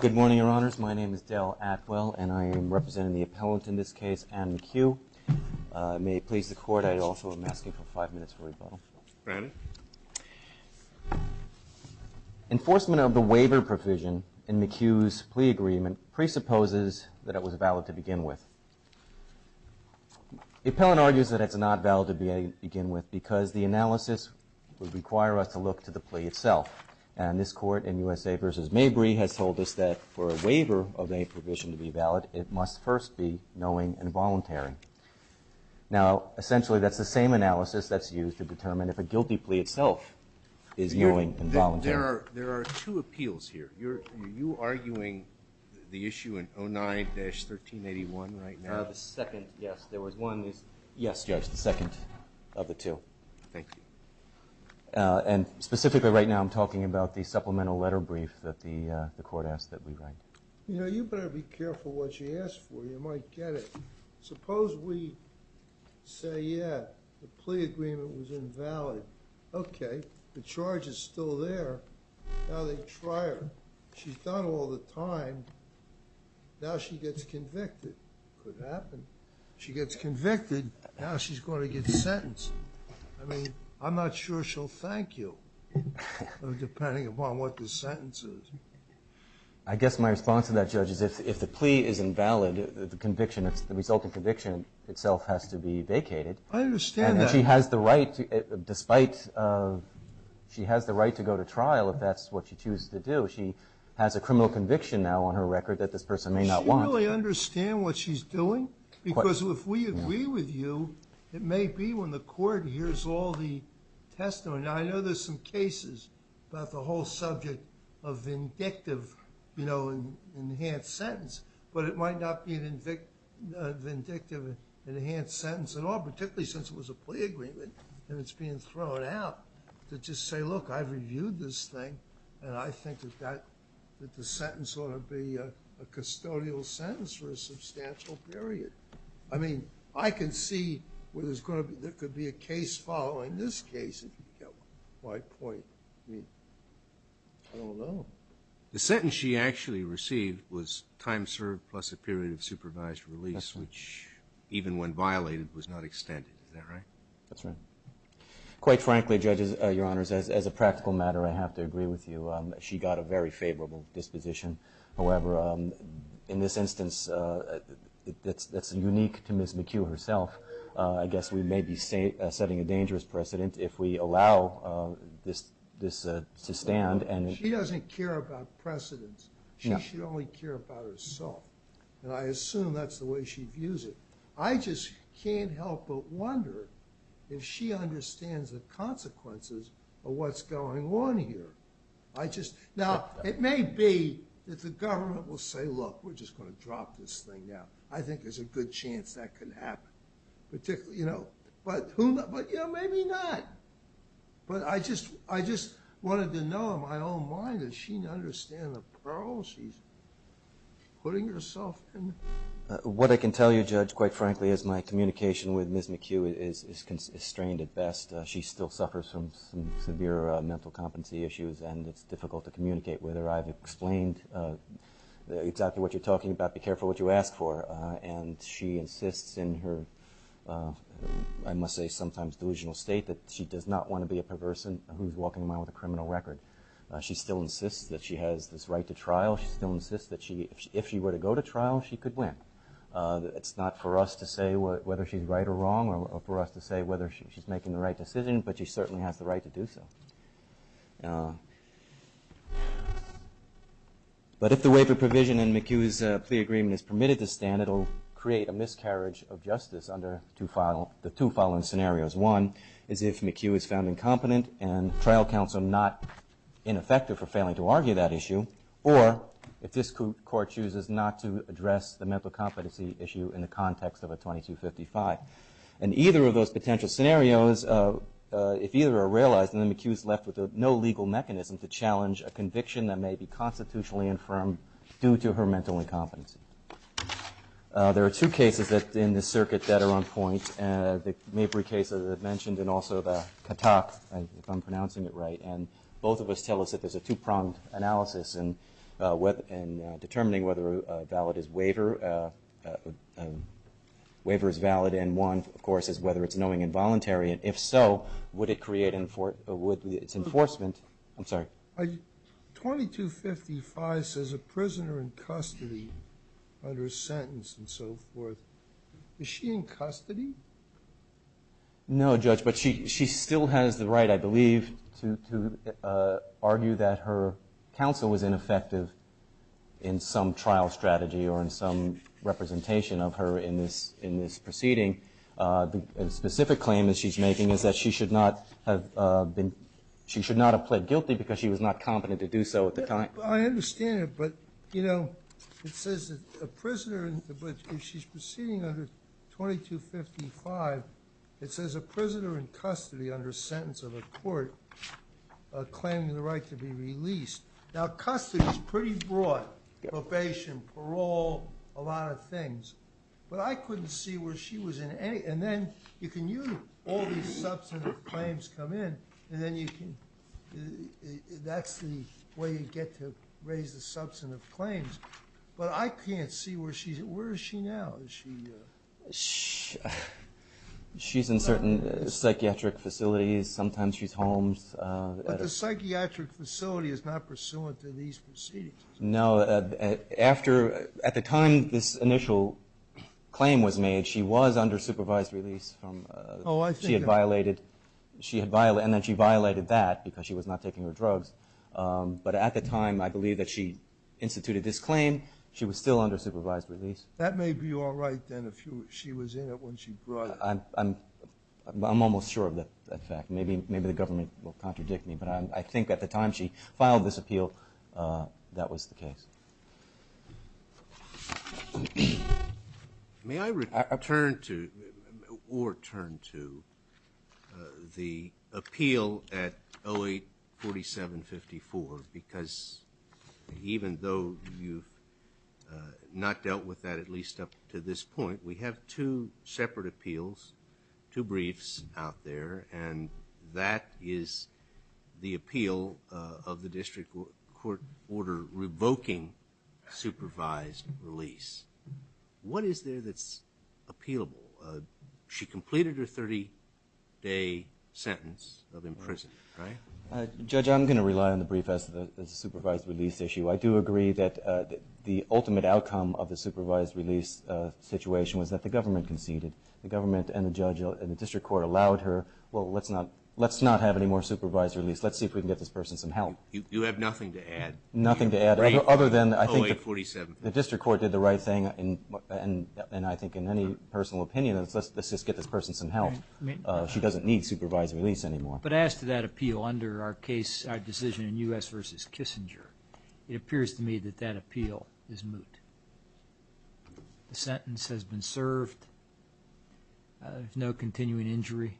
Good morning, your honors. My name is Dale Atwell and I am representing the appellant in this case, Ann McHugh. May it please the court, I also am asking for five minutes for rebuttal. Enforcement of the waiver provision in McHugh's plea agreement presupposes that it was valid to begin with. The appellant argues that it's not valid to begin with because the analysis would require us to look to the plea itself. And this court in USA v. Mabry has told us that for a waiver of any provision to be valid, it must first be knowing and voluntary. Now, essentially that's the same analysis that's used to determine if a guilty plea itself is knowing and voluntary. There are two appeals here. Are you arguing the issue in 09-1381 right now? The second, yes. There was one. Yes, Judge, the second of the two. Thank you. And specifically right now I'm talking about the supplemental letter brief that the court asked that we write. You know, you better be careful what you ask for. You might get it. Suppose we say, yeah, the plea agreement was invalid. Okay. The charge is still there. Now they try her. She's done all the time. Now she gets convicted. Could happen. She gets convicted. Now she's going to get sentenced. I mean, I'm not sure she'll thank you, depending upon what the sentence is. I guess my response to that, Judge, is if the plea is invalid, the conviction, the resulting conviction itself has to be vacated. I understand that. And she has the right, despite, she has the right to go to trial if that's what she chooses to do. She has a criminal conviction now on her record that this person may not want. Does she really understand what she's doing? Because if we agree with you, it may be when the court hears all the testimony. Now, I know there's some cases about the whole subject of vindictive, you know, enhanced sentence. But it might not be a vindictive enhanced sentence at all, particularly since it was a plea agreement and it's being thrown out to just say, look, I've reviewed this thing, and I think that the sentence ought to be a custodial sentence for a substantial period. I mean, I can see where there's going to be, there could be a case following this case, if you get my point. I mean, I don't know. The sentence she actually received was time served plus a period of supervised release, which even when violated was not extended. Is that right? That's right. Quite frankly, Judge, Your Honors, as a practical matter, I have to agree with you. She got a very favorable disposition. However, in this instance, that's unique to Ms. McHugh herself. I guess we may be setting a dangerous precedent if we allow this to stand. She doesn't care about precedents. She should only care about herself, and I assume that's the way she views it. I just can't help but wonder if she understands the consequences of what's going on here. Now, it may be that the government will say, look, we're just going to drop this thing now. I think there's a good chance that could happen. But, you know, maybe not. But I just wanted to know in my own mind, does she understand the problem she's putting herself in? What I can tell you, Judge, quite frankly, is my communication with Ms. McHugh is constrained at best. She still suffers from some severe mental competency issues, and it's difficult to communicate with her. I've explained exactly what you're talking about. Be careful what you ask for. And she insists in her, I must say sometimes delusional state, that she does not want to be a perversant who's walking around with a criminal record. She still insists that she has this right to trial. She still insists that if she were to go to trial, she could win. It's not for us to say whether she's right or wrong or for us to say whether she's making the right decision, but she certainly has the right to do so. But if the waiver provision in McHugh's plea agreement is permitted to stand, it will create a miscarriage of justice under the two following scenarios. One is if McHugh is found incompetent and trial counsel not ineffective for failing to argue that issue, or if this court chooses not to address the mental competency issue in the context of a 2255. And either of those potential scenarios, if either are realized, then McHugh is left with no legal mechanism to challenge a conviction that may be constitutionally infirm due to her mental incompetence. There are two cases in this circuit that are on point, the Mabry case, as I mentioned, and also the Katak, if I'm pronouncing it right. And both of us tell us that there's a two-pronged analysis in determining whether a waiver is valid. And one, of course, is whether it's knowing involuntary. And if so, would it create enforcement? I'm sorry. 2255 says a prisoner in custody under a sentence and so forth. Is she in custody? No, Judge, but she still has the right, I believe, to argue that her counsel was ineffective in some trial strategy or in some representation of her in this proceeding. The specific claim that she's making is that she should not have been ‑‑ she should not have pled guilty because she was not competent to do so at the time. I understand it, but, you know, it says a prisoner, but if she's proceeding under 2255, it says a prisoner in custody under a sentence of a court claiming the right to be released. Now, custody is pretty broad, probation, parole, a lot of things. But I couldn't see where she was in any ‑‑ and then you can use all these substantive claims come in, and then you can ‑‑ that's the way you get to raise the substantive claims. But I can't see where she's ‑‑ where is she now? Is she ‑‑ She's in certain psychiatric facilities. Sometimes she's home. But the psychiatric facility is not pursuant to these proceedings. No, after ‑‑ at the time this initial claim was made, she was under supervised release from ‑‑ Oh, I see. She had violated ‑‑ and then she violated that because she was not taking her drugs. But at the time, I believe that she instituted this claim. She was still under supervised release. That may be all right then if she was in it when she brought it. I'm almost sure of that fact. Maybe the government will contradict me, but I think at the time she filed this appeal, that was the case. May I return to or turn to the appeal at 084754? Because even though you've not dealt with that at least up to this point, we have two separate appeals, two briefs out there, and that is the appeal of the district court order revoking supervised release. What is there that's appealable? She completed her 30‑day sentence of imprisonment, right? Judge, I'm going to rely on the brief as a supervised release issue. I do agree that the ultimate outcome of the supervised release situation was that the government conceded. The government and the judge and the district court allowed her, well, let's not have any more supervised release. Let's see if we can get this person some help. You have nothing to add? Nothing to add other than I think the district court did the right thing, and I think in any personal opinion, let's just get this person some help. She doesn't need supervised release anymore. But as to that appeal under our decision in U.S. v. Kissinger, it appears to me that that appeal is moot. The sentence has been served. There's no continuing injury.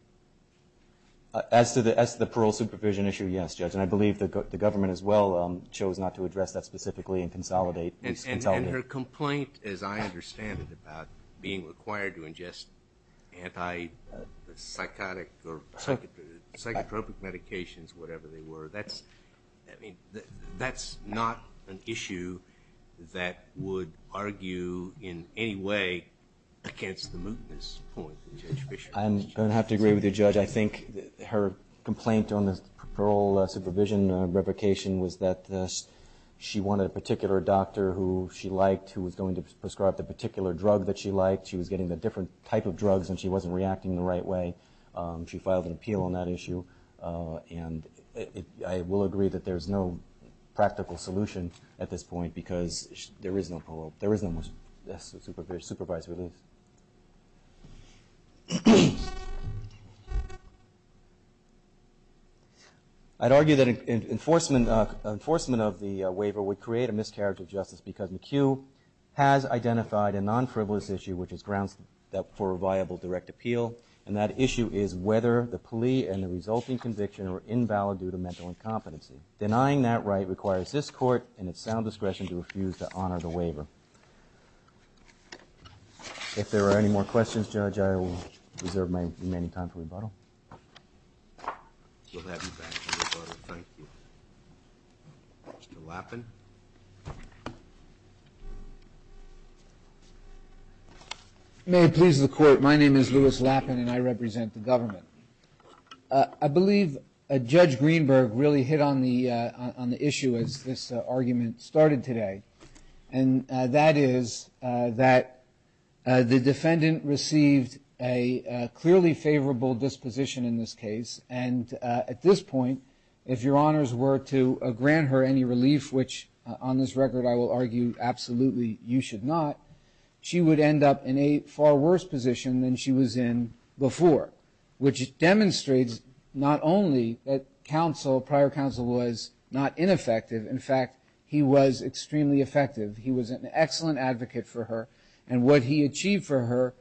As to the parole supervision issue, yes, Judge, and I believe the government as well chose not to address that specifically and consolidate it. And her complaint, as I understand it, about being required to ingest antipsychotic or psychotropic medications, whatever they were, that's not an issue that would argue in any way against the mootness point of Judge Fisher. I'm going to have to agree with you, Judge. I think her complaint on the parole supervision replication was that she wanted a particular doctor who she liked, who was going to prescribe the particular drug that she liked. She was getting the different type of drugs, and she wasn't reacting the right way. She filed an appeal on that issue. And I will agree that there's no practical solution at this point because there is no parole. There is no supervised release. I'd argue that enforcement of the waiver would create a miscarriage of justice because McHugh has identified a non-frivolous issue, which is grounds for a viable direct appeal. And that issue is whether the plea and the resulting conviction are invalid due to mental incompetency. Denying that right requires this court and its sound discretion to refuse to honor the waiver. If there are any more questions, Judge, I will reserve my remaining time for rebuttal. We'll have you back for rebuttal. Thank you. Mr. Lappin. May it please the Court. My name is Louis Lappin, and I represent the government. I believe Judge Greenberg really hit on the issue as this argument started today, and that is that the defendant received a clearly favorable disposition in this case. And at this point, if your honors were to grant her any relief, which on this record I will argue absolutely you should not, she would end up in a far worse position than she was in before, which demonstrates not only that counsel, prior counsel, was not ineffective. In fact, he was extremely effective. He was an excellent advocate for her, and what he achieved for her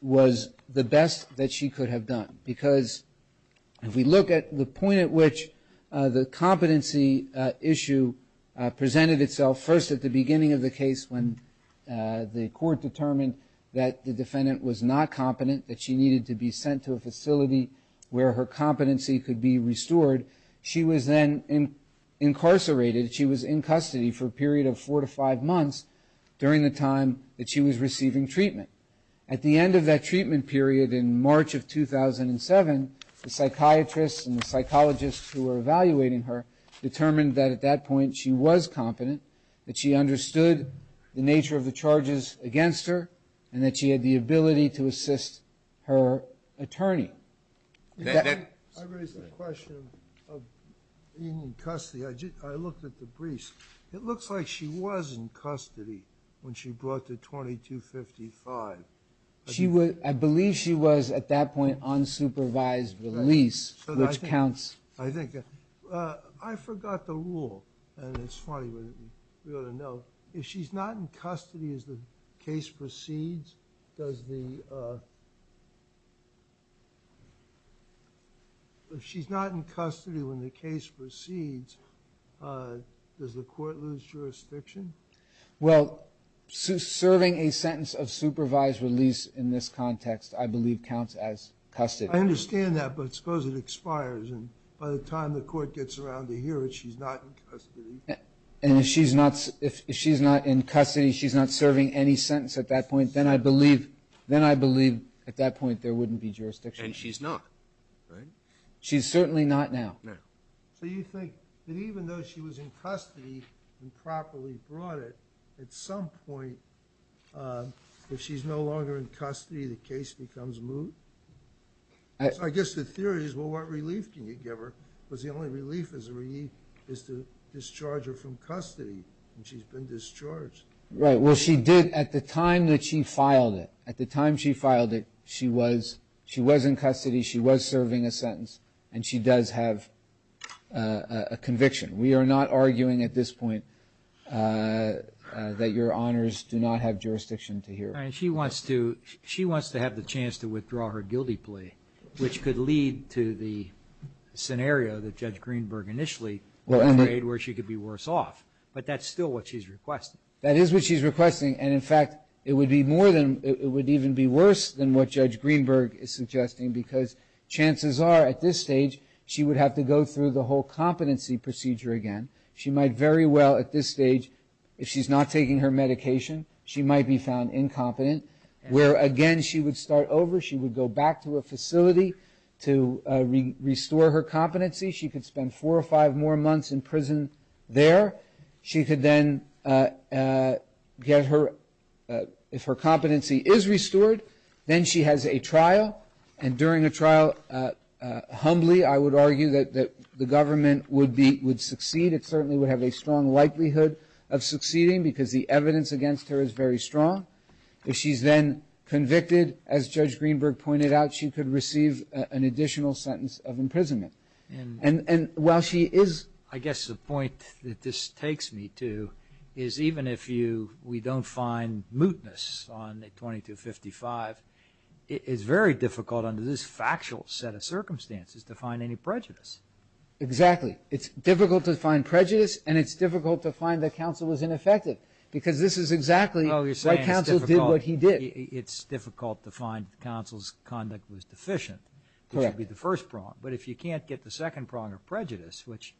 was the best that she could have done. Because if we look at the point at which the competency issue presented itself first at the beginning of the case when the court determined that the defendant was not competent, that she needed to be sent to a facility where her competency could be restored, she was then incarcerated, she was in custody for a period of four to five months during the time that she was receiving treatment. At the end of that treatment period in March of 2007, the psychiatrists and the psychologists who were evaluating her determined that at that point she was competent, that she understood the nature of the charges against her, and that she had the ability to assist her attorney. I raised the question of being in custody. I looked at the briefs. It looks like she was in custody when she brought the 2255. I believe she was at that point on supervised release, which counts. I think. I forgot the rule, and it's funny, but we ought to know. If she's not in custody as the case proceeds, does the – if she's not in custody when the case proceeds, does the court lose jurisdiction? Well, serving a sentence of supervised release in this context, I believe, counts as custody. I understand that, but suppose it expires, and by the time the court gets around to hear it, she's not in custody. And if she's not in custody, she's not serving any sentence at that point, then I believe at that point there wouldn't be jurisdiction. And she's not, right? She's certainly not now. So you think that even though she was in custody and properly brought it, at some point, if she's no longer in custody, the case becomes moot? So I guess the theory is, well, what relief can you give her? Because the only relief is to discharge her from custody, and she's been discharged. Right. Well, she did at the time that she filed it. At the time she filed it, she was in custody, she was serving a sentence, and she does have a conviction. We are not arguing at this point that your honors do not have jurisdiction to hear. All right. She wants to have the chance to withdraw her guilty plea, which could lead to the scenario that Judge Greenberg initially created, where she could be worse off. But that's still what she's requesting. That is what she's requesting. And, in fact, it would even be worse than what Judge Greenberg is suggesting, because chances are, at this stage, she would have to go through the whole competency procedure again. She might very well, at this stage, if she's not taking her medication, she might be found incompetent, where, again, she would start over. She would go back to a facility to restore her competency. She could spend four or five more months in prison there. She could then get her, if her competency is restored, then she has a trial. And during a trial, humbly, I would argue that the government would succeed. It certainly would have a strong likelihood of succeeding, because the evidence against her is very strong. If she's then convicted, as Judge Greenberg pointed out, she could receive an additional sentence of imprisonment. And while she is ‑‑ I guess the point that this takes me to is even if we don't find mootness on 2255, it's very difficult under this factual set of circumstances to find any prejudice. Exactly. It's difficult to find prejudice, and it's difficult to find that counsel was ineffective, because this is exactly why counsel did what he did. It's difficult to find that counsel's conduct was deficient, which would be the first prong. But if you can't get the second prong of prejudice, which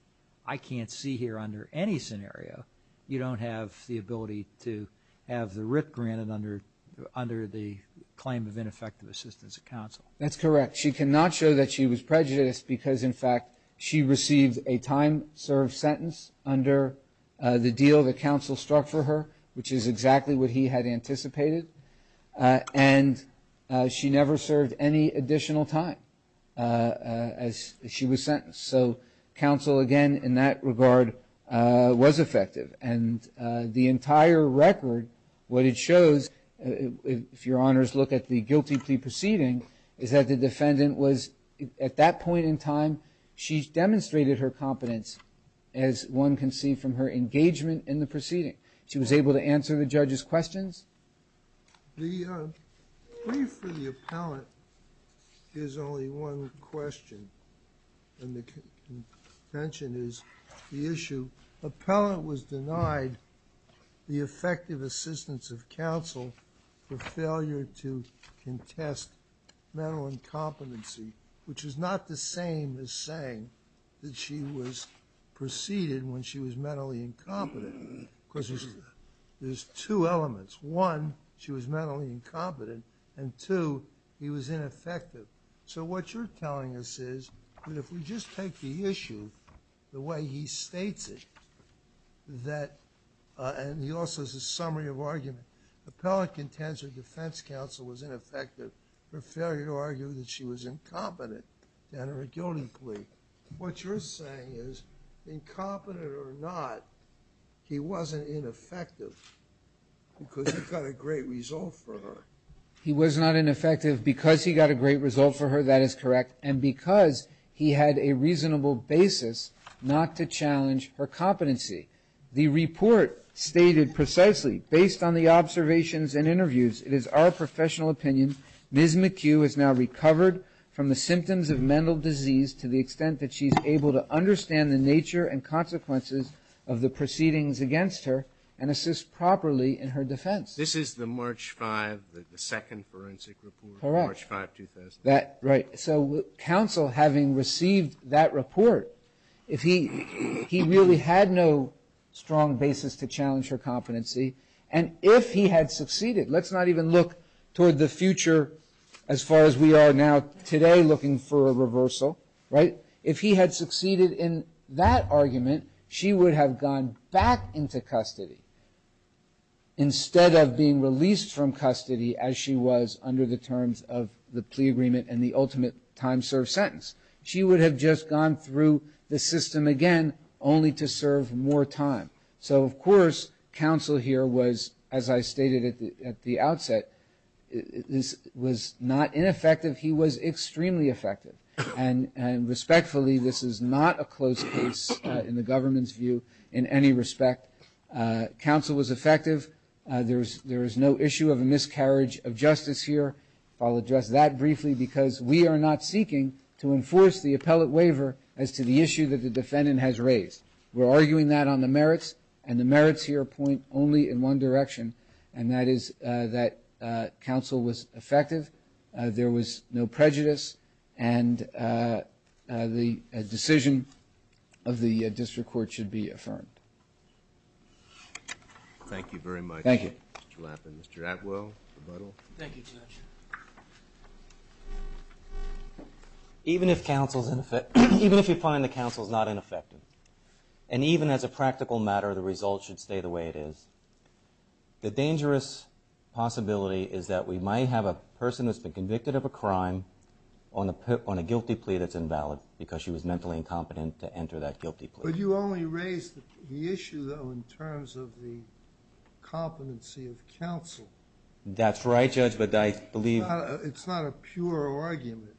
I can't see here under any scenario, you don't have the ability to have the writ granted under the claim of ineffective assistance of counsel. That's correct. She cannot show that she was prejudiced because, in fact, she received a time‑served sentence under the deal that counsel struck for her, which is exactly what he had anticipated. And she never served any additional time as she was sentenced. So counsel, again, in that regard, was effective. And the entire record, what it shows, if your honors look at the guilty plea proceeding, is that the defendant was, at that point in time, she demonstrated her competence as one can see from her engagement in the proceeding. The plea for the appellant is only one question. And the contention is the issue, appellant was denied the effective assistance of counsel for failure to contest mental incompetency, which is not the same as saying that she was preceded when she was mentally incompetent. Because there's two elements. One, she was mentally incompetent. And two, he was ineffective. So what you're telling us is that if we just take the issue the way he states it, and he also has a summary of argument. Appellant contends her defense counsel was ineffective for failure to argue that she was incompetent to enter a guilty plea. What you're saying is, incompetent or not, he wasn't ineffective because he got a great result for her. He was not ineffective because he got a great result for her. That is correct. And because he had a reasonable basis not to challenge her competency. The report stated precisely, based on the observations and interviews, it is our professional opinion, Ms. McHugh has now recovered from the symptoms of mental disease to the extent that she's able to understand the nature and consequences of the proceedings against her and assist properly in her defense. This is the March 5, the second forensic report? Correct. March 5, 2001. Right. So counsel having received that report, if he really had no strong basis to challenge her competency, and if he had succeeded, let's not even look toward the future as far as we are now today looking for a reversal, right? If he had succeeded in that argument, she would have gone back into custody instead of being released from custody as she was under the terms of the plea agreement and the ultimate time served sentence. She would have just gone through the system again only to serve more time. So, of course, counsel here was, as I stated at the outset, this was not ineffective. He was extremely effective. And respectfully, this is not a close case in the government's view in any respect. Counsel was effective. There is no issue of a miscarriage of justice here. I'll address that briefly because we are not seeking to enforce the appellate waiver as to the issue that the defendant has raised. We're arguing that on the merits, and the merits here point only in one direction, and that is that counsel was effective, there was no prejudice, and the decision of the district court should be affirmed. Thank you very much, Mr. Lappin. Mr. Atwell, rebuttal. Thank you, Judge. Even if counsel is ineffective, even if you find that counsel is not ineffective, and even as a practical matter the results should stay the way it is, the dangerous possibility is that we might have a person who has been convicted of a crime on a guilty plea that's invalid because she was mentally incompetent to enter that guilty plea. But you only raised the issue, though, in terms of the competency of counsel. That's right, Judge, but I believe... It's not a pure argument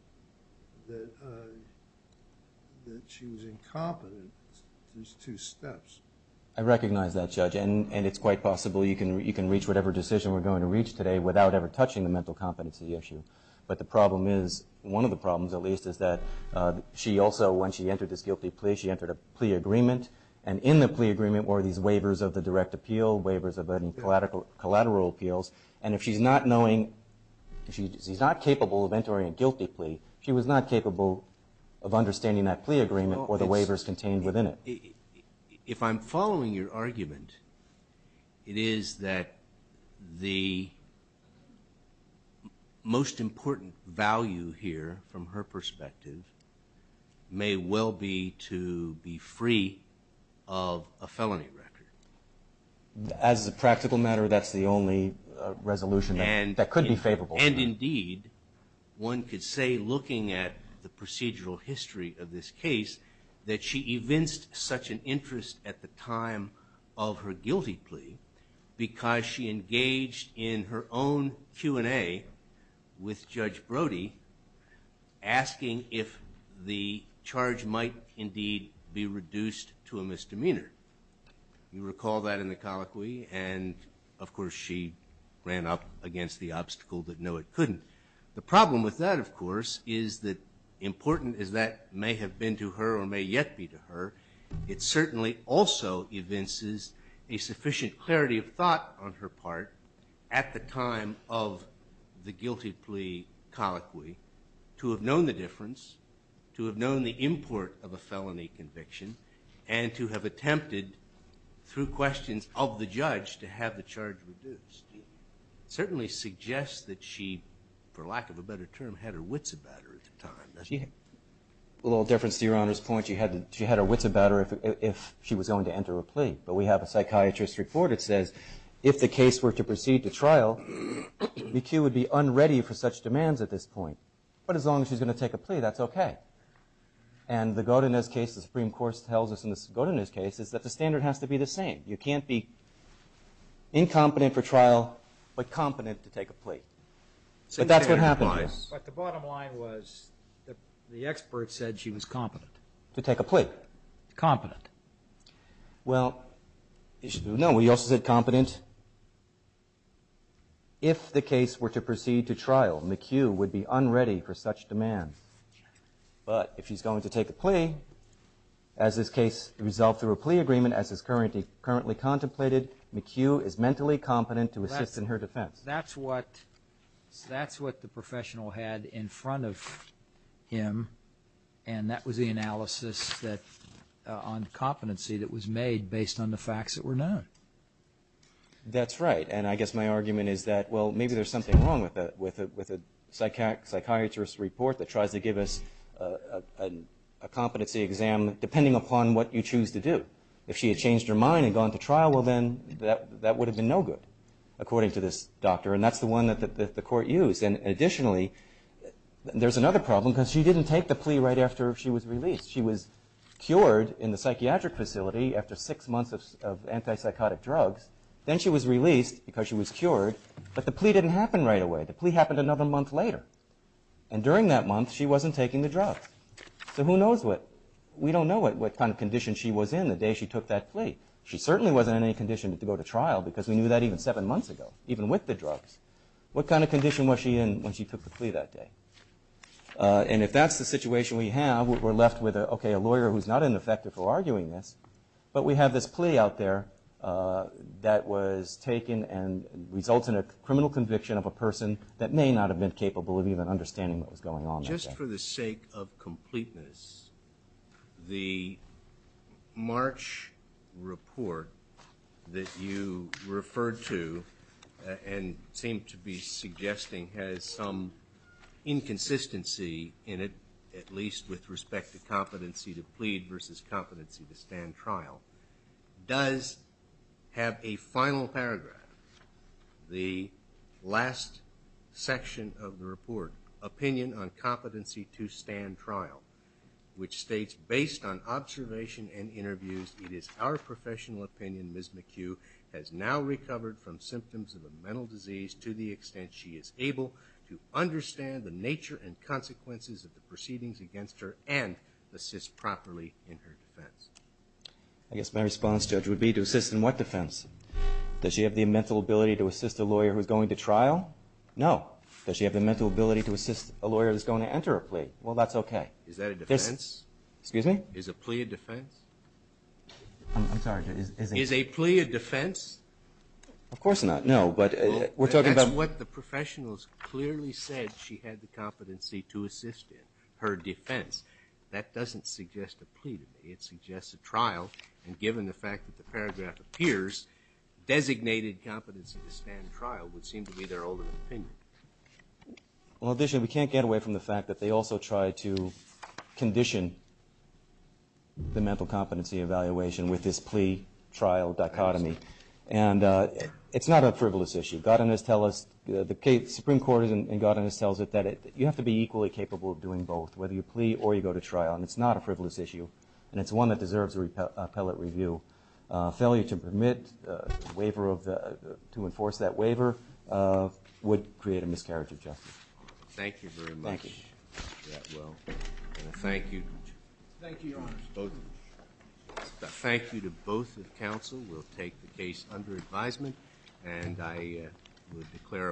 that she was incompetent. There's two steps. I recognize that, Judge, and it's quite possible you can reach whatever decision we're going to reach today without ever touching the mental competency issue. But the problem is, one of the problems at least, is that she also, when she entered this guilty plea, she entered a plea agreement, and in the plea agreement were these waivers of the direct appeal, no waivers of any collateral appeals, and if she's not knowing, if she's not capable of entering a guilty plea, she was not capable of understanding that plea agreement or the waivers contained within it. If I'm following your argument, it is that the most important value here, from her perspective, may well be to be free of a felony record. As a practical matter, that's the only resolution that could be favorable. And indeed, one could say, looking at the procedural history of this case, that she evinced such an interest at the time of her guilty plea because she engaged in her own Q&A with Judge Brody, asking if the charge might indeed be reduced to a misdemeanor. You recall that in the colloquy, and of course she ran up against the obstacle that no, it couldn't. The problem with that, of course, is that important as that may have been to her or may yet be to her, it certainly also evinces a sufficient clarity of thought on her part at the time of the guilty plea colloquy to have known the difference, to have known the import of a felony conviction, and to have attempted, through questions of the judge, to have the charge reduced. It certainly suggests that she, for lack of a better term, had her wits about her at the time. A little difference to Your Honor's point, she had her wits about her if she was going to enter a plea. But we have a psychiatrist's report that says, if the case were to proceed to trial, McHugh would be unready for such demands at this point. But as long as she's going to take a plea, that's okay. And the Godinez case, the Supreme Court tells us in the Godinez case, is that the standard has to be the same. You can't be incompetent for trial, but competent to take a plea. But that's what happened here. But the bottom line was, the expert said she was competent. To take a plea. Competent. Well, no, we also said competent if the case were to proceed to trial. McHugh would be unready for such demand. But if she's going to take a plea, as this case resolved through a plea agreement, as is currently contemplated, McHugh is mentally competent to assist in her defense. That's what the professional had in front of him, and that was the analysis on competency that was made based on the facts that were known. That's right. And I guess my argument is that, well, maybe there's something wrong with a psychiatrist's report that tries to give us a competency exam depending upon what you choose to do. If she had changed her mind and gone to trial, well, then that would have been no good, according to this doctor. And that's the one that the court used. And additionally, there's another problem because she didn't take the plea right after she was released. She was cured in the psychiatric facility after six months of antipsychotic drugs. Then she was released because she was cured, but the plea didn't happen right away. The plea happened another month later. And during that month, she wasn't taking the drugs. So who knows what – we don't know what kind of condition she was in. The day she took that plea, she certainly wasn't in any condition to go to trial because we knew that even seven months ago, even with the drugs. What kind of condition was she in when she took the plea that day? And if that's the situation we have, we're left with, okay, a lawyer who's not ineffective for arguing this, but we have this plea out there that was taken and results in a criminal conviction of a person that may not have been capable of even understanding what was going on that day. Just for the sake of completeness, the March report that you referred to and seem to be suggesting has some inconsistency in it, at least with respect to competency to plead versus competency to stand trial, does have a final paragraph. The last section of the report, opinion on competency to stand trial, which states, based on observation and interviews, it is our professional opinion Ms. McHugh has now recovered from symptoms of a mental disease to the extent she is able to understand the nature and consequences of the proceedings against her and assist properly in her defense. I guess my response, Judge, would be to assist in what defense? Does she have the mental ability to assist a lawyer who's going to trial? No. Does she have the mental ability to assist a lawyer who's going to enter a plea? Well, that's okay. Is that a defense? Excuse me? Is a plea a defense? I'm sorry. Is a plea a defense? Of course not. No, but we're talking about... That's what the professionals clearly said she had the competency to assist in, her defense. That doesn't suggest a plea to me. It suggests a trial, and given the fact that the paragraph appears, designated competency to stand trial would seem to be their ultimate opinion. Well, additionally, we can't get away from the fact that they also tried to condition the mental competency evaluation with this plea-trial dichotomy, and it's not a frivolous issue. The Supreme Court in Godinus tells it that you have to be equally capable of doing both, whether you plea or you go to trial, and it's not a frivolous issue, and it's one that deserves a appellate review. Failure to enforce that waiver would create a miscarriage of justice. Thank you very much. Thank you. Thank you. Thank you, Your Honor. Both of you. Thank you to both of counsel. We'll take the case under advisement, and I would declare a plea.